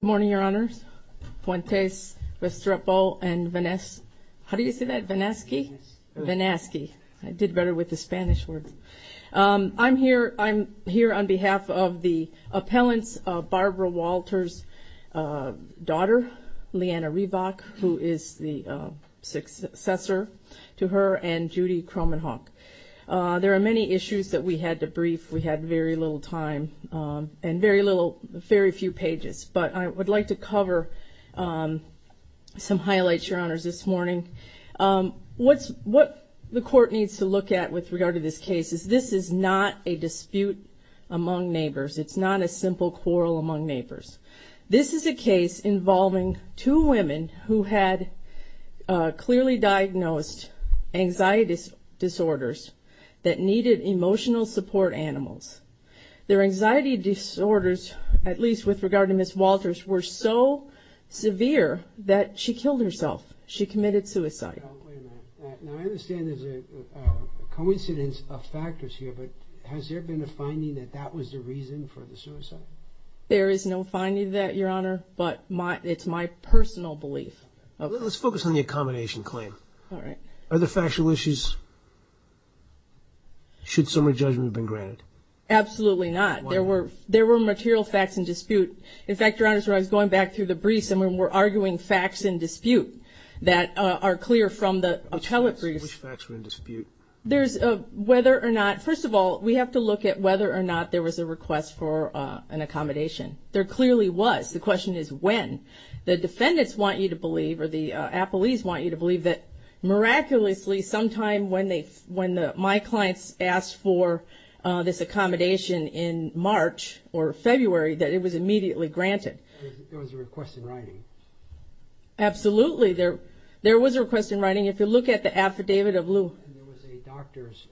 Good morning, your honors. Puentes, Vestrepo, and Vanaski. How do you say that? Vanaski? Vanaski. I did better with the Spanish words. I'm here on behalf of the appellants of Barbara Walter's daughter, Leanna Reebok, who is the successor to her, and Judy Cromenhawk. There are many issues that we had to brief. We had very little time and very few pages, but I would like to cover some highlights, your honors, this morning. What the court needs to look at with regard to this case is this is not a dispute among neighbors. It's not a simple quarrel among neighbors. This is a case involving two women who had clearly diagnosed anxiety disorders that needed emotional support animals. Their anxiety disorders, at least with regard to Ms. Walters, were so severe that she killed herself. She committed suicide. Wait a minute. Now, I understand there's a coincidence of factors here, but has there been a finding that that was the reason for the suicide? There is no finding of that, your honor, but it's my personal belief. Let's focus on the accommodation claim. Are the factual issues, should summary judgment have been granted? Absolutely not. There were material facts in dispute. In fact, your honors, when I was going back through the briefs and when we're arguing facts in dispute that are clear from the appellate briefs. Which facts were in dispute? There's whether or not, first of all, we have to look at whether or not there was a request for an accommodation. There clearly was. The question is when. The defendants want you to believe, or the appellees want you to believe, that miraculously sometime when my clients asked for this accommodation in March or February, that it was immediately granted. There was a request in writing. Absolutely. There was a request in writing. If you look at the affidavit of Lou. There was a doctor's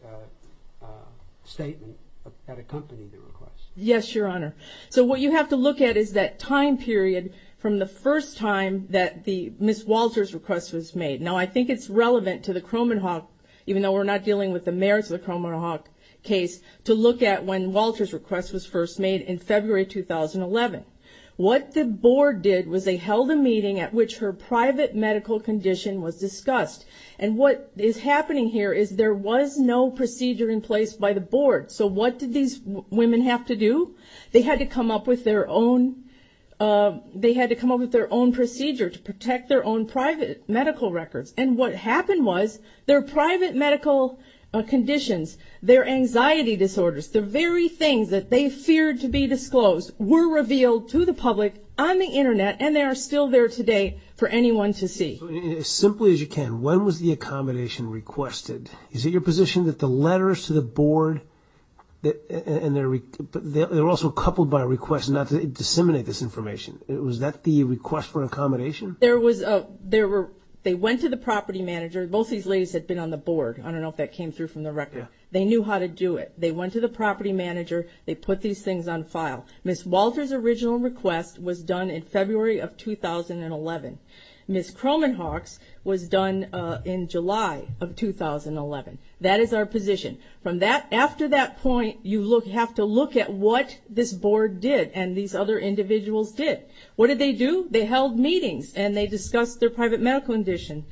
statement that accompanied the request. Yes, your honor. What you have to look at is that time period from the first time that Ms. Walter's request was made. Now, I think it's relevant to the Cromenhawk, even though we're not dealing with the merits of the Cromenhawk case, to look at when Walter's request was first made in February 2011. What the board did was they held a meeting at which her private medical condition was discussed. And what is happening here is there was no procedure in place by the board. So what did these women have to do? They had to come up with their own procedure to protect their own private medical records. And what happened was their private medical conditions, their anxiety disorders, the very things that they feared to be disclosed, were revealed to the public on the internet and they are still there today for anyone to see. As simply as you can, when was the accommodation requested? Is it your position that the letters to the board and they're also coupled by a request not to disseminate this accommodation? They went to the property manager. Both these ladies had been on the board. I don't know if that came through from the record. They knew how to do it. They went to the property manager. They put these things on file. Ms. Walter's original request was done in February of 2011. Ms. Cromenhawk's was done in July of 2011. That is our position. After that point, you have to look at what this board did and these other individuals did. What did they do? They held meetings and they discussed their private medical condition.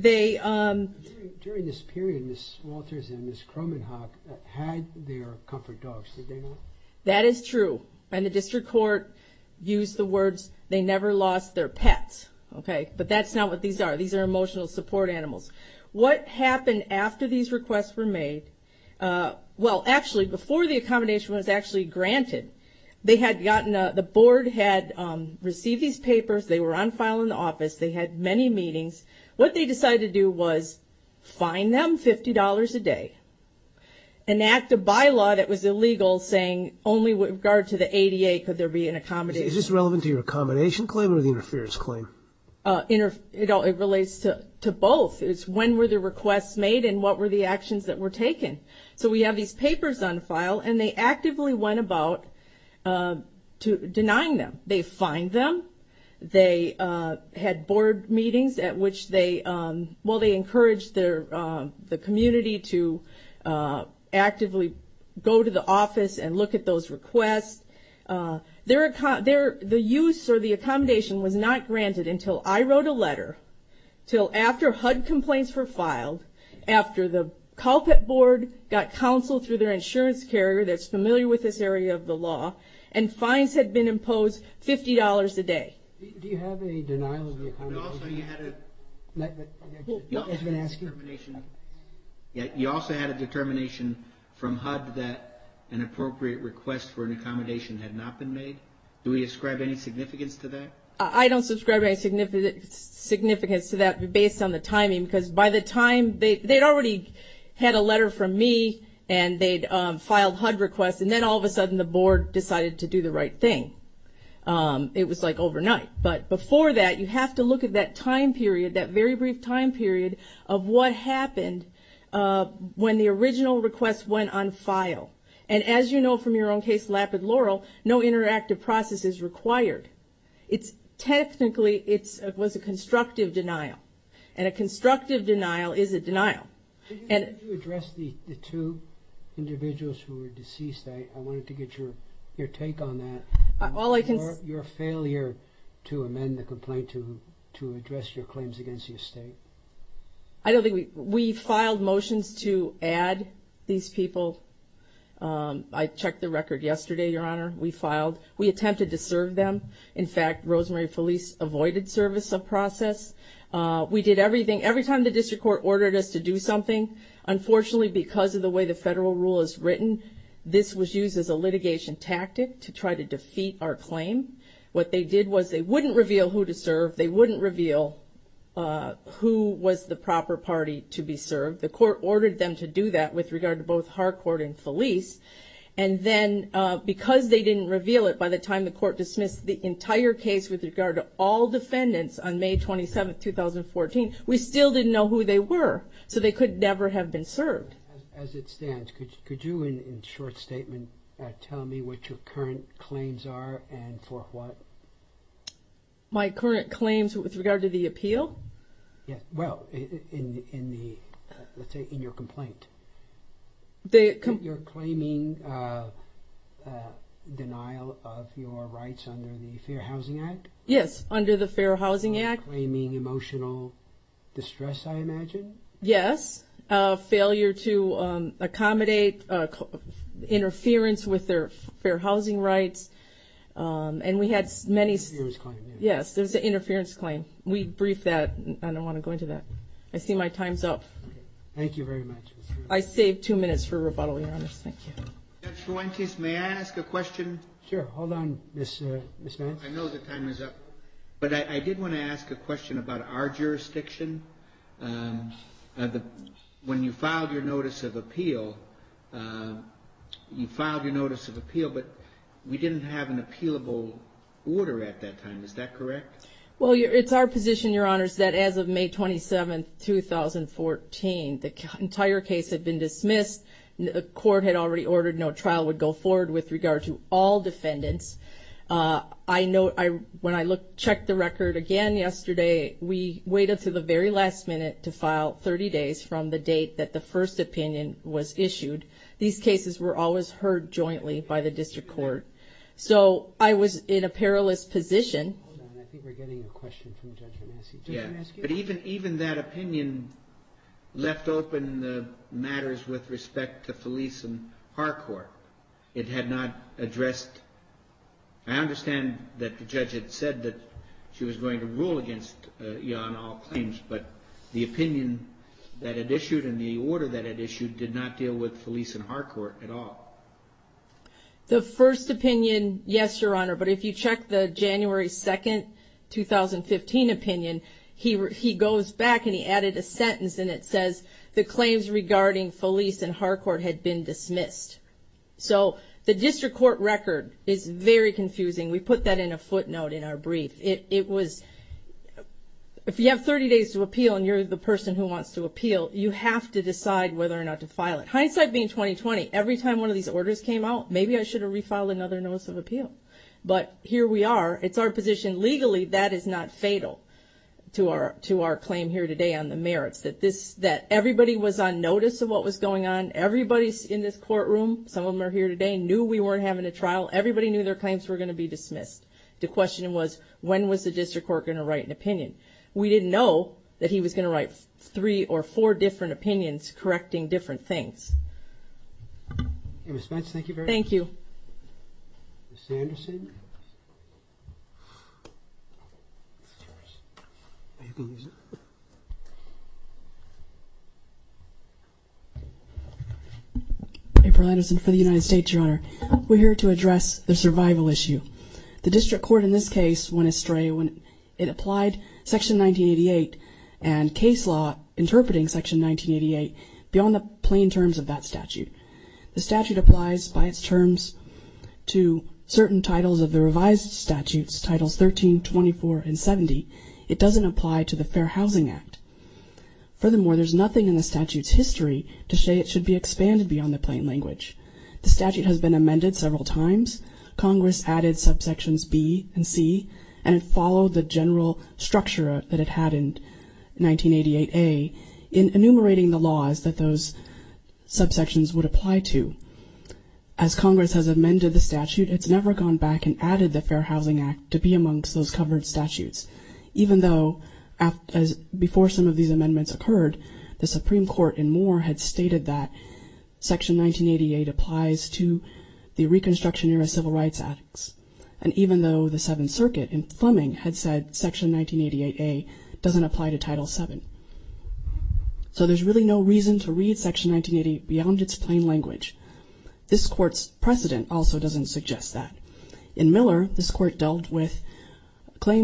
During this period, Ms. Walter's and Ms. Cromenhawk had their comfort dogs. Did they not? That is true. And the district court used the words, they never lost their pets. But that's not what these are. These are emotional support animals. What happened after these requests were made, well actually before the papers, they were on file in the office. They had many meetings. What they decided to do was fine them $50 a day and act a bylaw that was illegal saying only with regard to the ADA could there be an accommodation. Is this relevant to your accommodation claim or the interference claim? It relates to both. It's when were the requests made and what were the actions that were taken. So we have these papers on file and they actively went about denying them. They fined them. They had board meetings at which they encouraged the community to actively go to the office and look at those requests. The use or the accommodation was not granted until I wrote a letter, till after HUD complaints were filed, after the CalPET board got counsel through their insurance carrier that's familiar with this area of the law and fines had been imposed $50 a day. Do you have a denial of the accommodation? You also had a determination from HUD that an appropriate request for an accommodation had not been made. Do we ascribe any significance to that? I don't ascribe any significance to that based on the timing because by the time they'd already had a HUD request and then all of a sudden the board decided to do the right thing, it was like overnight. But before that you have to look at that time period, that very brief time period of what happened when the original request went on file. And as you know from your own case, Lapid Laurel, no interactive process is required. It's technically, it was a constructive denial and a constructive denial is a denial. Can you address the two individuals who were deceased? I wanted to get your take on that, your failure to amend the complaint to address your claims against your state. I don't think we, we filed motions to add these people. I checked the record yesterday, your honor. We filed, we attempted to serve them. In fact, Rosemary Felice avoided service of process. We did everything, every time the district court ordered us to do something, unfortunately because of the way the federal rule is written, this was used as a litigation tactic to try to defeat our claim. What they did was they wouldn't reveal who to serve. They wouldn't reveal who was the proper party to be served. The court ordered them to do that with regard to both Harcourt and Felice. And then because they didn't reveal it by the time the court dismissed the entire case with regard to all defendants on May 27th, 2014, we still didn't know who they were, so they could never have been served. As it stands, could you, in short statement, tell me what your current claims are and for what? My current claims with regard to the appeal? Yeah, well, in the, let's say in your under the Fair Housing Act. Claiming emotional distress, I imagine? Yes. Failure to accommodate interference with their fair housing rights. And we had many, yes, there's an interference claim. We briefed that. I don't want to go into that. I see my time's up. Thank you very much. I saved two minutes for rebuttal, your honor. Thank you. Judge Fuentes, may I ask a question? Sure. Hold on, Ms. Nance. I know the time is up, but I did want to ask a question about our jurisdiction. When you filed your notice of appeal, you filed your notice of appeal, but we didn't have an appealable order at that time. Is that correct? Well, it's our position, your honors, that as of May 27th, 2014, the entire case had been dismissed. The court had already ordered no trial would go to the defendants. I know when I checked the record again yesterday, we waited to the very last minute to file 30 days from the date that the first opinion was issued. These cases were always heard jointly by the district court. So I was in a perilous position. Hold on, I think we're getting a question from Judge Nance. Yeah, but even that opinion left open the matters with respect to I understand that the judge had said that she was going to rule against you on all claims, but the opinion that had issued and the order that had issued did not deal with Felice and Harcourt at all. The first opinion, yes, your honor, but if you check the January 2nd, 2015 opinion, he goes back and he added a sentence and it says the claims regarding Felice and Harcourt had been dismissed. So the district court record is very confusing. We put that in a footnote in our brief. It was, if you have 30 days to appeal and you're the person who wants to appeal, you have to decide whether or not to file it. Hindsight being 2020, every time one of these orders came out, maybe I should have refiled another notice of appeal, but here we are. It's our position. Legally, that is not fatal to our claim here today on the merits that everybody was on notice of what was going on. Everybody in this courtroom, some of them are here today, knew we weren't having a trial. Everybody knew their claims were going to be dismissed. The question was, when was the district court going to write an opinion? We didn't know that he was going to write three or four different opinions correcting different things. In response, thank you very much. Thank you. Ms. Sanderson. April Anderson for the United States, Your Honor. We're here to address the survival issue. The district court in this case went astray when it applied Section 1988 and case law interpreting Section 1988 beyond the plain terms of that statute. The statute applies by its terms to certain titles of the revised statutes, titles 13, 24, and 70. It doesn't apply to the Fair Housing Act. Furthermore, there's nothing in the statute's history to say it should be expanded beyond the plain language. The statute has been amended several times. Congress added subsections B and C, and it followed the general structure that it had in 1988A in enumerating the laws that those subsections would apply to. As Congress has amended the statute, it's never gone back and occurred, the Supreme Court in Moore had stated that Section 1988 applies to the Reconstruction Era Civil Rights Acts. And even though the Seventh Circuit in Fleming had said Section 1988A doesn't apply to Title VII. So there's really no reason to read Section 1988 beyond its plain language. This court's precedent also doesn't suggest that. In Miller, this court dealt with Fair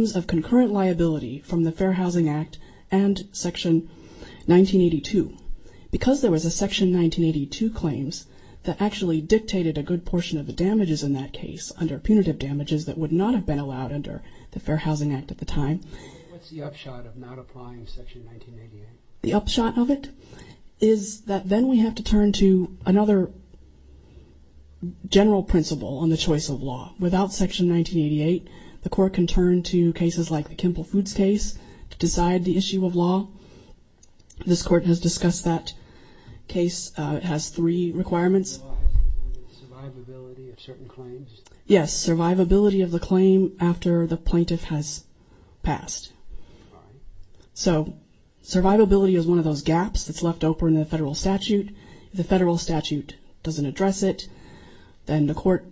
Housing Act and Section 1982. Because there was a Section 1982 claims that actually dictated a good portion of the damages in that case under punitive damages that would not have been allowed under the Fair Housing Act at the time. The upshot of it is that then we have to turn to another general principle on the choice of law. Without Section 1988, the court can turn to decide the issue of law. This court has discussed that case, it has three requirements. Yes, survivability of the claim after the plaintiff has passed. So survivability is one of those gaps that's left open in the federal statute. The federal statute doesn't address it, then the look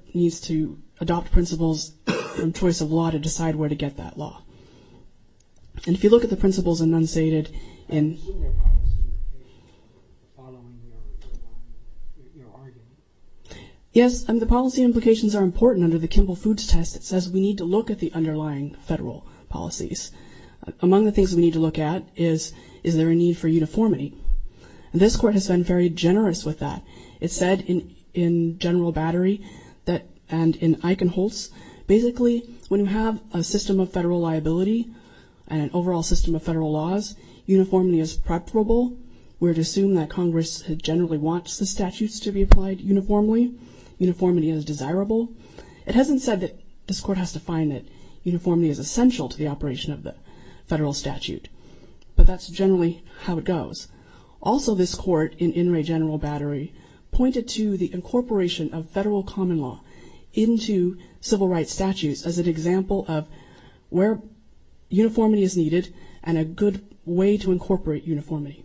at the principles enunciated in... Yes, and the policy implications are important under the Kimball Foods Test. It says we need to look at the underlying federal policies. Among the things we need to look at is, is there a need for uniformity? And this court has been very generous with that. It said in General Battery that and in Eichenholz, basically, when you have a system of federal liability and an overall system of federal laws, uniformity is preferable. We're to assume that Congress generally wants the statutes to be applied uniformly. Uniformity is desirable. It hasn't said that this court has to find that uniformity is essential to the operation of the federal statute, but that's generally how it goes. Also, this court in Inouye General Battery pointed to the incorporation of federal common law into civil rights statutes as an example of where uniformity is needed and a good way to incorporate uniformity.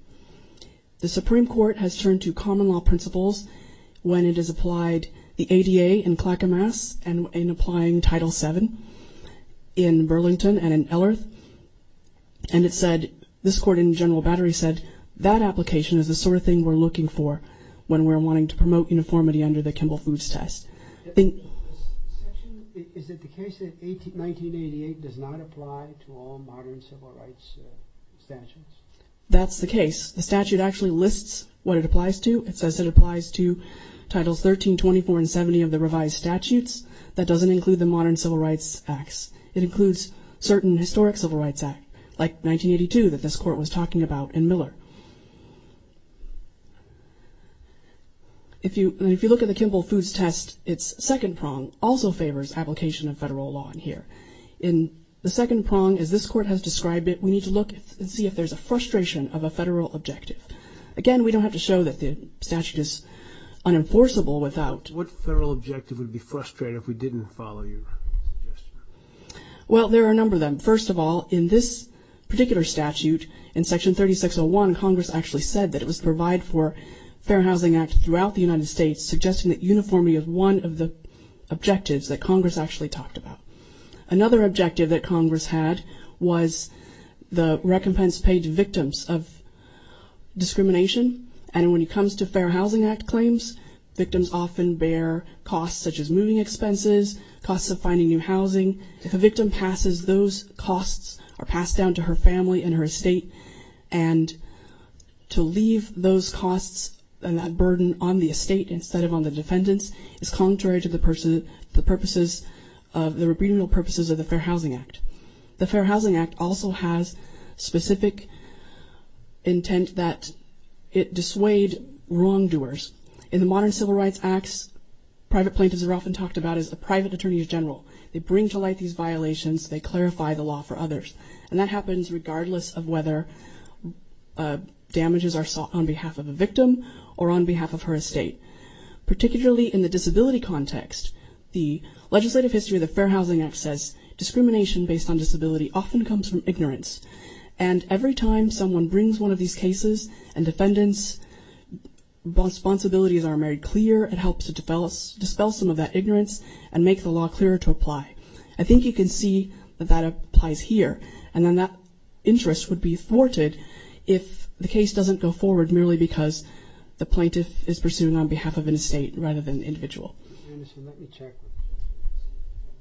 The Supreme Court has turned to common law principles when it has applied the ADA in Clackamas and in applying Title VII in Burlington and in Ellerth, and it said, this court in General Battery said, that application is the sort of thing we're looking for when we're wanting to promote uniformity under the 1988 does not apply to all modern civil rights statutes. That's the case. The statute actually lists what it applies to. It says it applies to Titles 13, 24, and 70 of the revised statutes. That doesn't include the modern Civil Rights Acts. It includes certain historic Civil Rights Act, like 1982, that this court was talking about in Miller. If you look at the Kimball Foods Test, its second prong also favors application of federal law in the second prong, as this court has described it, we need to look and see if there's a frustration of a federal objective. Again, we don't have to show that the statute is unenforceable without... What federal objective would be frustrating if we didn't follow you? Well, there are a number of them. First of all, in this particular statute, in Section 3601, Congress actually said that it was to provide for Fair Housing Act throughout the United States, suggesting that uniformity of one of the objectives that Congress actually talked about. Another objective that Congress had was the recompense paid to victims of discrimination. And when it comes to Fair Housing Act claims, victims often bear costs such as moving expenses, costs of finding new housing. If a victim passes, those costs are passed down to her family and her estate instead of on the defendants. It's contrary to the purposes of the rebreeding purposes of the Fair Housing Act. The Fair Housing Act also has specific intent that it dissuade wrongdoers. In the modern civil rights acts, private plaintiffs are often talked about as a private attorney general. They bring to light these violations, they clarify the law for others. And that happens regardless of whether damages are sought on behalf of a victim or on behalf of her estate. Particularly in the disability context, the legislative history of the Fair Housing Act says discrimination based on disability often comes from ignorance. And every time someone brings one of these cases and defendants' responsibilities are made clear, it helps to dispel some of that ignorance and make the law clearer to apply. I think you can see that applies here. And then that interest would be thwarted if the case doesn't go forward merely because the plaintiff is pursuing on behalf of an estate rather than an individual. Let me check.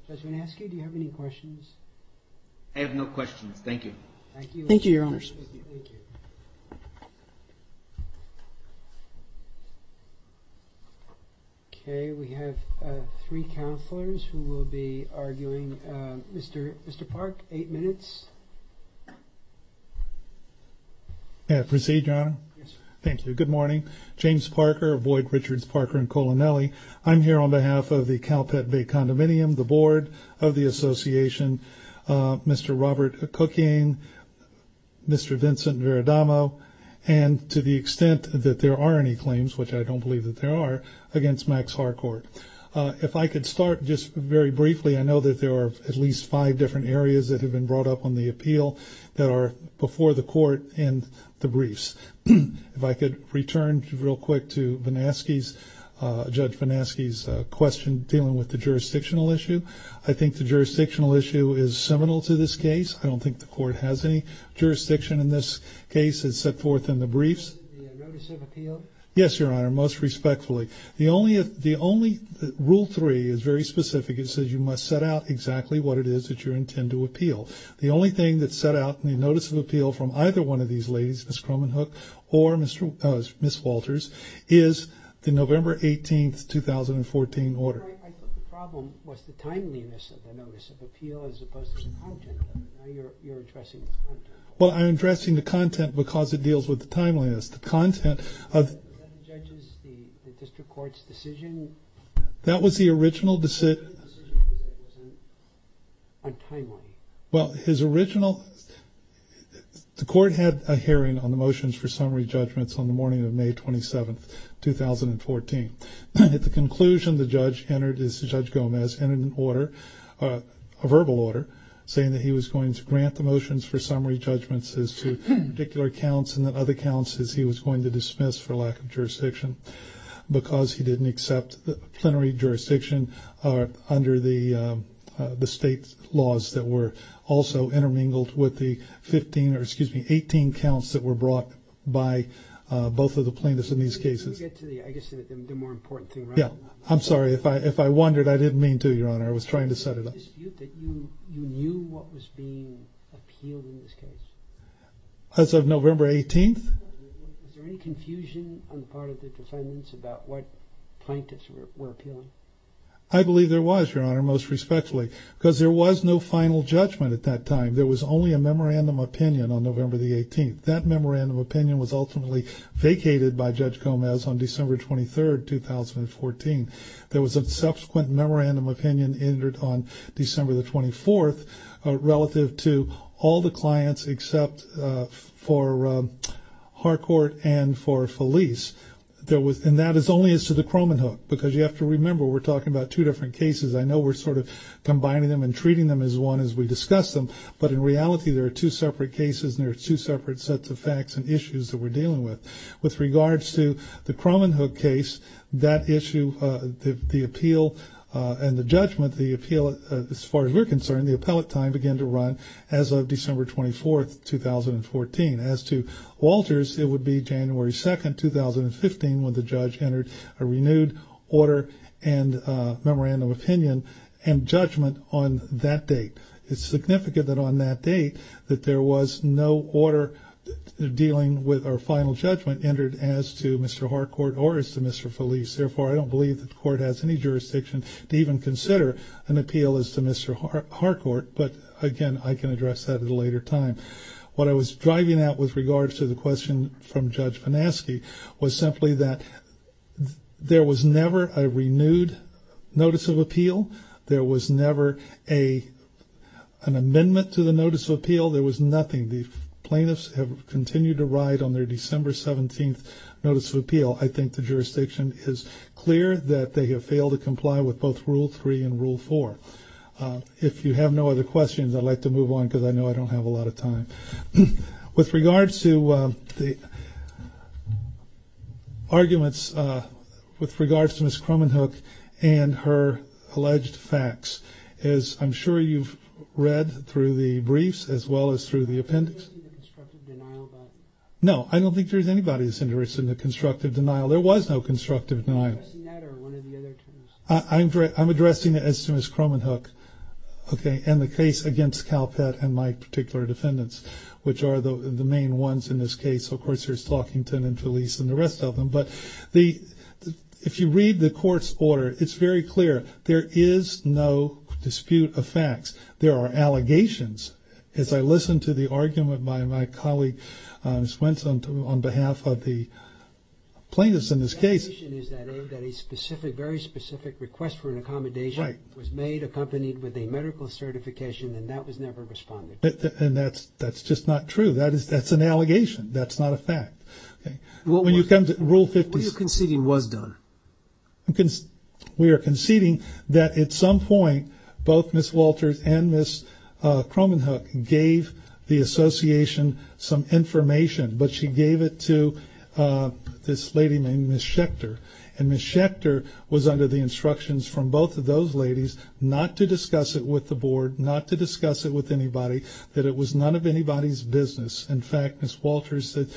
Does anyone ask you, do you have any questions? I have no questions. Thank you. Thank you, your honors. Okay, we have three counselors who will be arguing. Mr. Park, eight minutes. May I proceed, your honor? Yes. Thank you. Good morning. James Parker, Boyd Richards Parker, and Colonelli. I'm here on behalf of the Calpett Bay Condominium, the board of the association, Mr. Robert Cooking, Mr. Vincent Veradamo, and to the extent that there are any claims, which I don't believe that there are, against Max Harcourt. If I could start just very briefly, I know that there are at least five different areas that have been brought up on the appeal that are before the court and the briefs. If I could return real quick to Judge Venasky's question dealing with the jurisdictional issue. I think the jurisdictional issue is seminal to this case. I don't think the court has any jurisdiction in this case. It's set forth in the briefs. Yes, your honor, most respectfully. The only rule three is very specific. It says you must set out exactly what it is that you intend to appeal. The only thing that's set out in the notice of appeal from either one of these ladies, Ms. Cromenhoek or Ms. Walters, is the November 18th, 2014 order. I thought the problem was the timeliness of the notice of appeal as opposed to the content. Now you're addressing the content. Well, I'm addressing the content because it deals with the timeliness. The content of... Is that the judge's, the district court's decision? That was the original decision. Well, his original, the court had a hearing on the motions for summary judgments on the morning of May 27th, 2014. At the conclusion, the judge entered, Judge Gomez entered an order, a verbal order, saying that he was going to grant the motions for summary judgments as to particular counts and then other counts as he was going to dismiss for lack of jurisdiction because he didn't accept the plenary jurisdiction under the state laws that were also intermingled with the 15, or excuse me, 18 counts that were brought by both of the plaintiffs in these cases. Did you get to the, I guess, the more important thing, right? Yeah. I'm sorry. If I wondered, I didn't mean to, Your Honor. I was trying to set it up. Did you dispute that you knew what was being appealed in this case? As of November 18th? Is there any confusion on the part of the defendants about what plaintiffs were appealing? I believe there was, Your Honor, most respectfully, because there was no final judgment at that time. There was only a memorandum opinion on November the 18th. That memorandum opinion was ultimately vacated by Judge Gomez on December 23rd, 2014. There was a subsequent memorandum opinion entered on December the 24th relative to all the clients except for Harcourt and for Felice. And that is only as to the Cromenhoek because you have to remember we're talking about two different cases. I know we're sort of combining them and treating them as one as we discuss them, but in reality, there are two separate cases and there are two separate sets of facts and issues that we're dealing with. With regards to the Cromenhoek case, that issue, the appeal and the judgment, the appeal, as far as we're concerned, the appellate time began to run as of December 24th, 2014. As to Walters, it would be January 2nd, 2015 when the judge entered a renewed order and memorandum opinion and judgment on that date. It's significant that on that date that there was no order dealing with our final judgment entered as to Mr. Harcourt or as to Mr. Felice. Therefore, I don't believe that the court has any jurisdiction to even consider an appeal as to Mr. Harcourt, but again, I can address that at a later time. What I was driving at with regards to the question from Judge Panaski was simply that there was never a renewed notice of appeal. There was never an amendment to the notice of appeal. There was nothing. The plaintiffs have continued to ride on their December 17th notice of appeal. I think the jurisdiction is clear that they have failed to comply with both Rule 3 and Rule 4. If you have no other questions, I'd like to move on because I know I don't have a lot of time. With regards to the arguments, with regards to Ms. Cromenhoek and her alleged facts, as I'm sure you've read through the briefs as well as through the appendix. No, I don't think there's anybody that's interested in the constructive denial. There was no constructive denial. I'm addressing it as to Ms. Cromenhoek and the case against CalPET and my particular defendants, which are the main ones in this case. Of course, there's Talkington and Felice and the rest of them, but if you read the court's order, it's very clear there is no dispute of facts. There are allegations. As I listened to the argument by my colleague, Ms. Wentz, on behalf of the plaintiffs in this case. The allegation is that a very specific request for an accommodation was made accompanied with a medical certification, and that was never responded to. And that's just not true. That's an allegation. That's not a fact. What are you conceding was done? Because we are conceding that at some point, both Ms. Walters and Ms. Cromenhoek gave the association some information, but she gave it to this lady named Ms. Schechter. And Ms. Schechter was under the instructions from both of those ladies not to discuss it with the board, not to discuss it with anybody, that it was none of anybody's business. In fact, Ms. Walters said,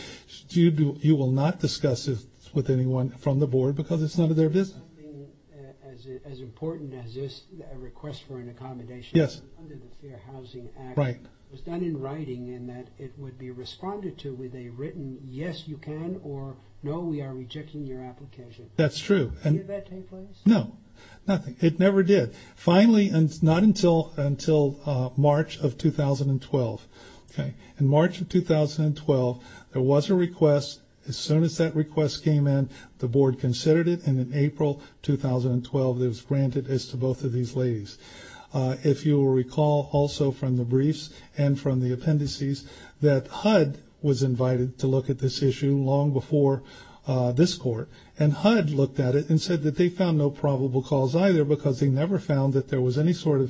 you will not discuss it with anyone from the board because it's none of their business. Something as important as this request for an accommodation under the Fair Housing Act was done in writing in that it would be responded to with a written, yes, you can, or no, we are rejecting your application. That's true. Did that take place? No, nothing. It never did. Finally, and it's not until March of 2012. In March of 2012, there was a request. As soon as that request came in, the board considered it, and in April 2012, it was granted as to both of these ladies. If you will recall also from the briefs and from the appendices that HUD was invited to look at this issue long before this court, and HUD looked at it and said that they found no probable cause either because they never found that there was any sort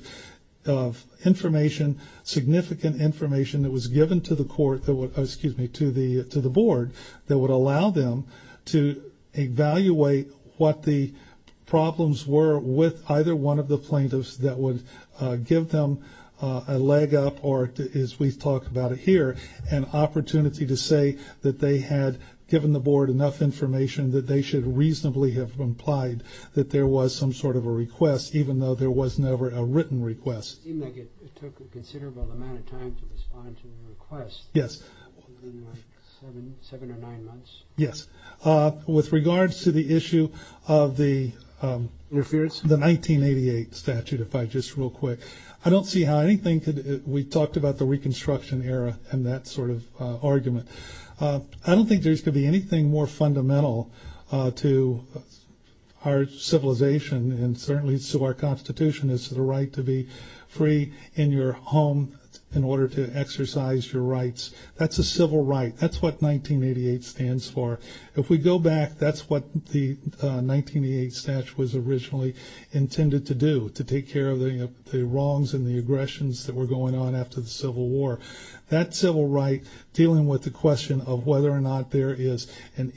of information, significant information that was given to the board that would allow them to evaluate what the problems were with either one of the plaintiffs that would give them a leg up, or as we talk about it here, an opportunity to say that they had given the board enough information that they should reasonably have implied that there was some sort of a request, even though there was never a written request. It took a considerable amount of time to respond to the request. Yes. Within like seven or nine months. Yes. With regards to the issue of the 1988 statute, if I just real quick, I don't see how anything could, we talked about the Reconstruction era and that sort of argument. I don't think there could be anything more fundamental to our civilization and certainly to our Constitution as the right to be free in your home in order to exercise your rights. That's a civil right. That's what 1988 stands for. If we go back, that's what the 1988 statute was originally intended to do, to take care of the wrongs and the aggressions that were going on after the Civil War. That civil right, dealing with the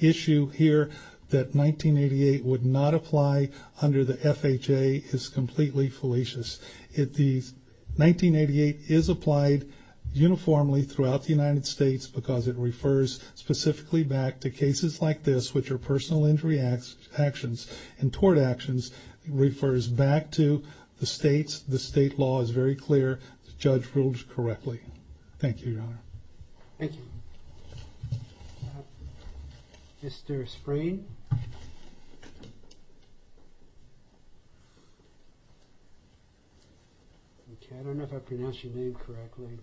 issue here that 1988 would not apply under the FHA is completely fallacious. The 1988 is applied uniformly throughout the United States because it refers specifically back to cases like this, which are personal injury actions and tort actions. It refers back to the states. The state law is very clear. The judge ruled correctly. Thank you, Your Honor. Thank you. Mr. Sprain. Okay, I don't know if I pronounced your name correctly.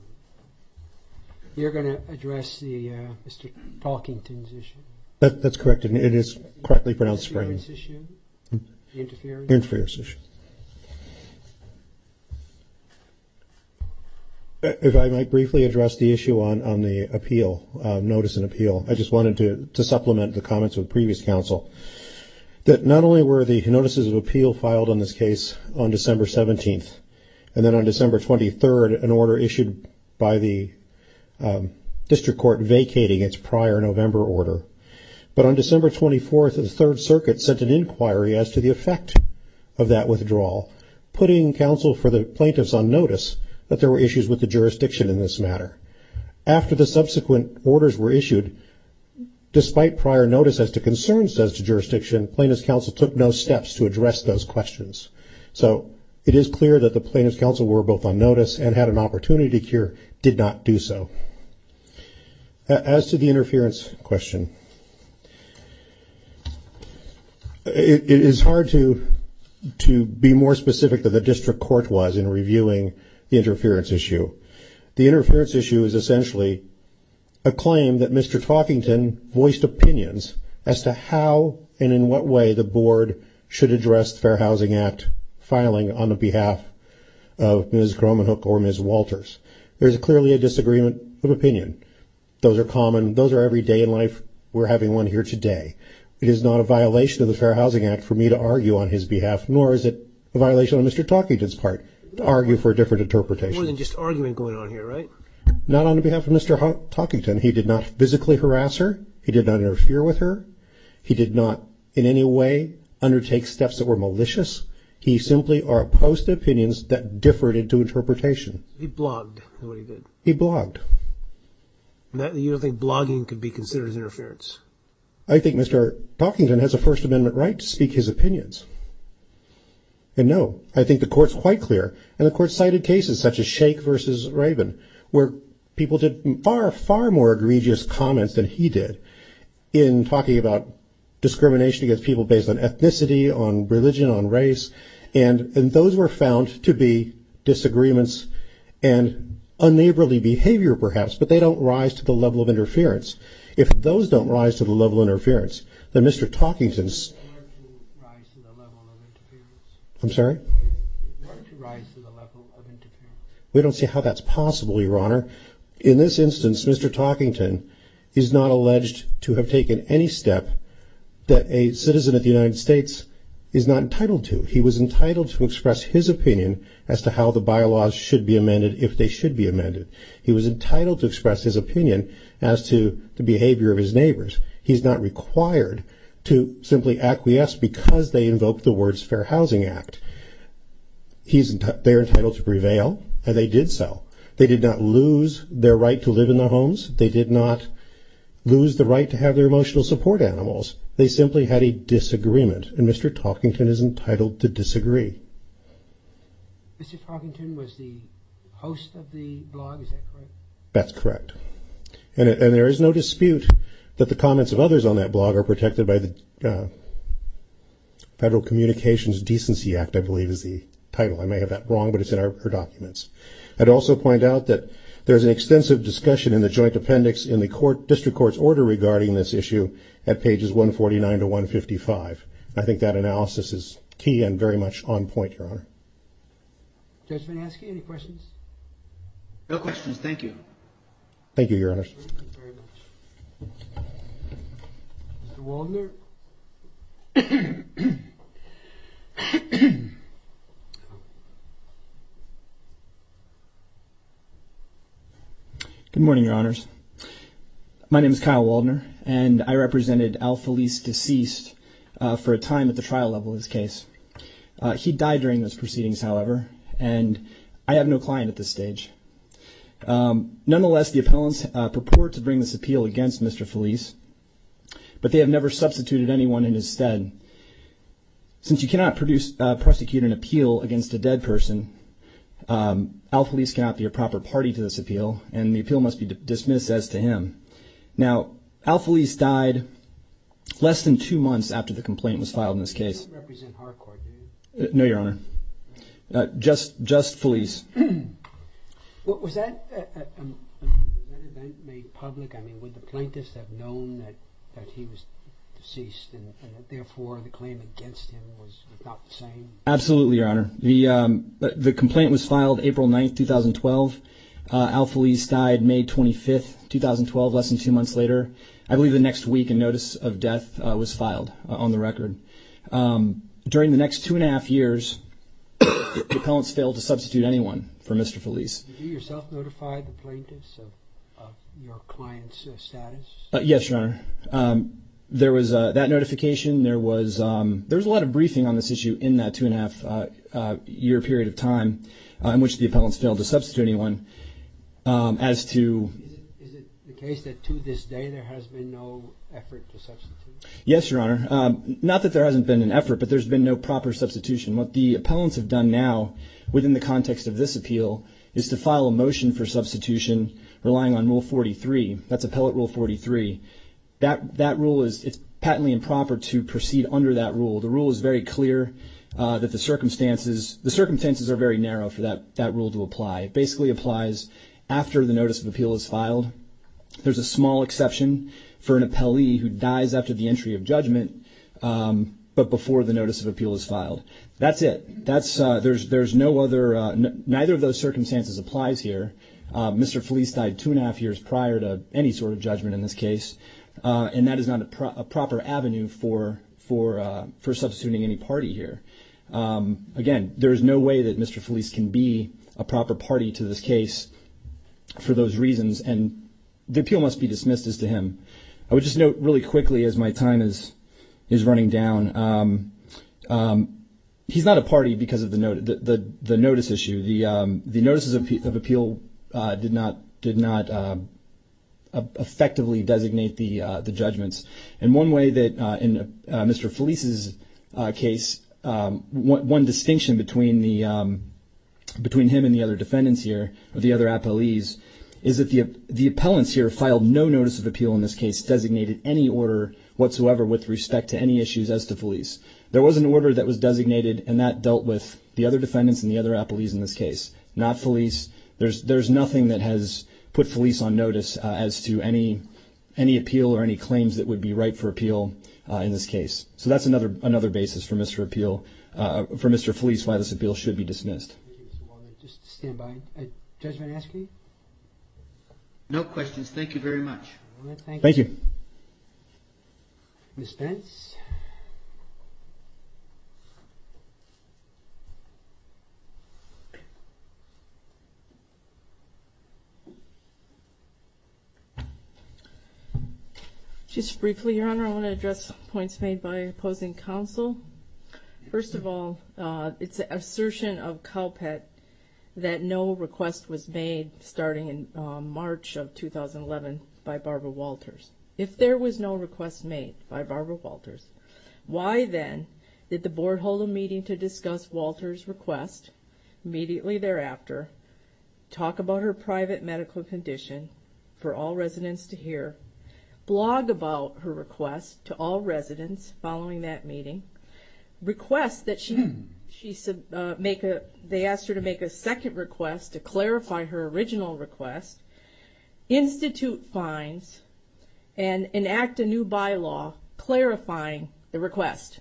You're going to address the Mr. Talkington's issue. That's correct, and it is correctly pronounced Sprain. Interference issue? Interference issue. If I might briefly address the issue on the appeal, notice and appeal, I just wanted to supplement the comments of the previous counsel, that not only were the notices of appeal filed on this case on December 17th, and then on December 23rd, an order issued by the District Court vacating its prior November order, but on December 24th, the Third Circuit sent an putting counsel for the plaintiffs on notice that there were issues with the jurisdiction in this matter. After the subsequent orders were issued, despite prior notice as to concerns as to jurisdiction, plaintiff's counsel took no steps to address those questions. So it is clear that the plaintiff's counsel were both on notice and had an opportunity to cure, did not do so. Okay. As to the interference question, it is hard to be more specific than the District Court was in reviewing the interference issue. The interference issue is essentially a claim that Mr. Talkington voiced opinions as to how and in what way the board should address the Fair Housing Act filing on the behalf of Ms. Talkington. Those are common. Those are every day in life. We're having one here today. It is not a violation of the Fair Housing Act for me to argue on his behalf, nor is it a violation of Mr. Talkington's part to argue for a different interpretation. More than just argument going on here, right? Not on behalf of Mr. Talkington. He did not physically harass her. He did not interfere with her. He did not in any way undertake steps that were malicious. He simply opposed opinions that differed into interpretation. He blogged. He blogged. You don't think blogging could be considered interference? I think Mr. Talkington has a First Amendment right to speak his opinions. And no, I think the court's quite clear. And the court cited cases such as Sheikh versus Raven, where people did far, far more egregious comments than he did in talking about to be disagreements and unneighborly behavior, perhaps, but they don't rise to the level of interference. If those don't rise to the level of interference, then Mr. Talkington's. I'm sorry? We don't see how that's possible, Your Honor. In this instance, Mr. Talkington is not alleged to have taken any step that a citizen of the United States is not entitled to. He was entitled to express his opinion as to how the bylaws should be amended if they should be amended. He was entitled to express his opinion as to the behavior of his neighbors. He's not required to simply acquiesce because they invoke the words Fair Housing Act. He's they're entitled to prevail, and they did so. They did not lose their right to live in their homes. They did not lose the right to have their emotional support animals. They simply had a disagreement, and Mr. Talkington is entitled to disagree. Mr. Talkington was the host of the blog. Is that correct? That's correct, and there is no dispute that the comments of others on that blog are protected by the Federal Communications Decency Act, I believe is the title. I may have that wrong, but it's in our documents. I'd also point out that there's an extensive discussion in the Federal Communications Decency Act, and I think that analysis is key and very much on point, Your Honor. Judge Vanaskie, any questions? No questions. Thank you. Thank you, Your Honors. Thank you very much. Mr. Waldner? Good morning, Your Honors. My name is Kyle Waldner, and I represented Al Felice, deceased for a time at the trial level of his case. He died during those proceedings, however, and I have no client at this stage. Nonetheless, the appellants purport to bring this appeal against Mr. Felice, but they have never substituted anyone in his stead. Since you cannot prosecute an appeal against a dead person, Al Felice cannot be a proper party to this appeal, and the appeal must be dismissed as to him. Now, Al Felice died less than two months after the complaint was filed in this case. He didn't represent Harcourt, did he? No, Your Honor. Just Felice. Was that made public? I mean, would the plaintiffs have known that he was deceased, and therefore, the claim against him was not the same? Absolutely, Your Honor. The complaint was filed April 9, 2012. Al Felice died May 25, 2012, less than two months later. I believe the next week, a notice of death was filed on the record. During the next two and a half years, the appellants failed to substitute anyone for Mr. Felice. Did you yourself notify the plaintiffs of your client's status? Yes, Your Honor. There was that notification. There was a lot of briefing on this issue in that two and a half year period of time in which the appellants failed to substitute anyone. Is it the case that to this day, there has been no effort to substitute? Yes, Your Honor. Not that there hasn't been an effort, but there's been no proper substitution. What the appellants have done now within the context of this appeal is to file a motion for substitution relying on Rule 43. That's Appellate Rule 43. It's patently improper to proceed under that rule. The rule is very clear that the circumstances are very narrow for that rule to apply. It basically applies after the notice of appeal is filed. There's a small exception for an appellee who dies after the entry of judgment, but before the notice of appeal is filed. That's it. Neither of those circumstances applies here. Mr. Felice died two and a half years prior to any sort of judgment in this case, and that is not a proper avenue for substituting any party here. Again, there is no way that Mr. Felice can be a proper party to this case for those reasons, and the appeal must be dismissed as to him. I would just note really he's not a party because of the notice issue. The notices of appeal did not effectively designate the judgments. In one way that in Mr. Felice's case, one distinction between him and the other defendants here, the other appellees, is that the appellants here filed no notice of appeal in this case designated any order whatsoever with respect to any issues as to Felice. There was an order that was designated, and that dealt with the other defendants and the other appellees in this case, not Felice. There's nothing that has put Felice on notice as to any appeal or any claims that would be right for appeal in this case. So that's another basis for Mr. Felice why this appeal should be dismissed. No questions. Thank you very much. Thank you. Ms. Pence. Just briefly, Your Honor, I want to address points made by opposing counsel. First of all, it's an assertion of COWPAT that no request was made starting in March of 2011 by Barbara Walters. If there was no request made by Barbara Walters, why then did the Board hold a meeting to discuss Walter's request immediately thereafter, talk about her private medical condition for all residents to hear, blog about her request to all residents following that meeting, request that they asked her to make a second request to clarify her original request, institute fines, and enact a new bylaw clarifying the request?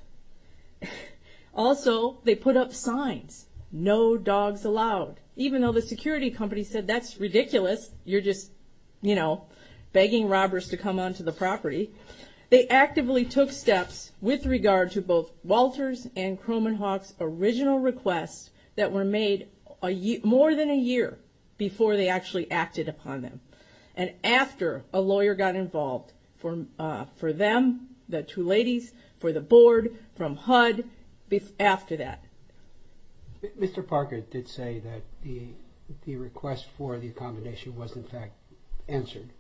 Also, they put up signs, no dogs allowed, even though the security company said, that's ridiculous, you're just begging robbers to come onto the property. They actively took steps with regard to both Walters and Cromenhawk's original requests that were made more than a year before they actually acted upon them. And after a lawyer got involved for them, the two ladies, for the Board, from HUD, after that. Mr. Parker did say that the request for the accommodation was in fact answered.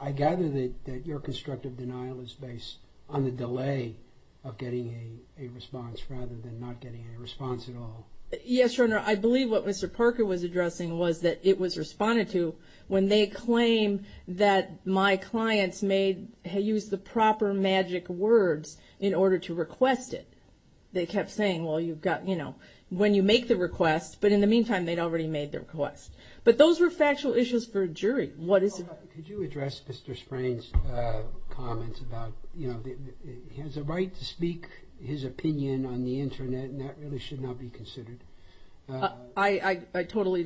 I gather that your constructive denial is based on the delay of getting a response rather than not getting a response at all. Yes, Your Honor, I believe what Mr. Parker was addressing was that it was responded to when they claim that my clients made, used the proper magic words in order to request it. They kept saying, well, you've got, you know, when you make the request, but in the meantime, they'd already made their request. But those were factual issues for a jury. Could you address Mr. Sprain's comments about, you know, he has a right to speak his opinion on the internet and that really should not be considered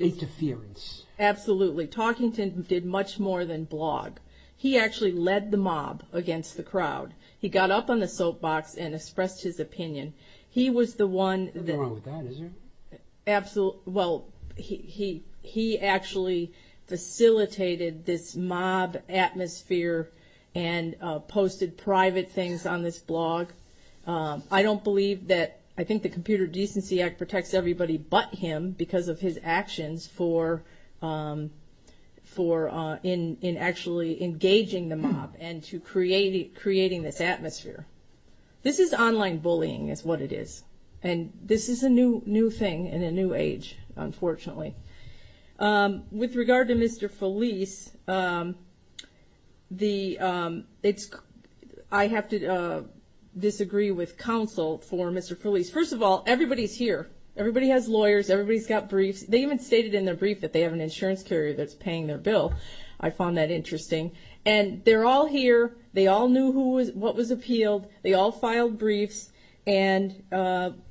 interference. Absolutely. Talkington did much more than blog. He actually led the mob against the crowd. He got up on the soapbox and expressed his opinion. He was the one that... Nothing wrong with that, is there? Absolutely. Well, he actually facilitated this mob atmosphere and posted private things on this blog. I don't believe that, I think the Computer Decency Act protects everybody but him because of his actions for, in actually engaging the mob and to creating this atmosphere. This is online bullying is what it is. And this is a new thing in a new age, unfortunately. With regard to Mr. Felice, I have to disagree with counsel for Mr. Felice. First of all, everybody's here. Everybody has lawyers. Everybody's got briefs. They even stated in their brief that they have an insurance carrier that's paying their bill. I found that interesting. And they're all here. They all knew what was appealed. They all filed briefs and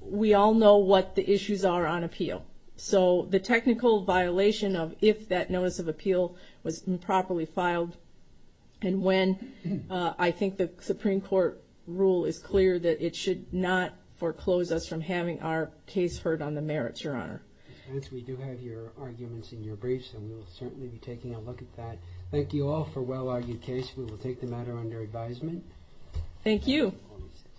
we all know what the issues are on appeal. So the technical violation of if that notice of appeal was properly filed and when, I think the Supreme Court rule is clear that it should not foreclose us from having our case heard on the merits, Your Honor. Since we do have your arguments in your briefs, we'll certainly be taking a look at that. Thank you all for well-argued case. We will take the matter under advisement. Thank you.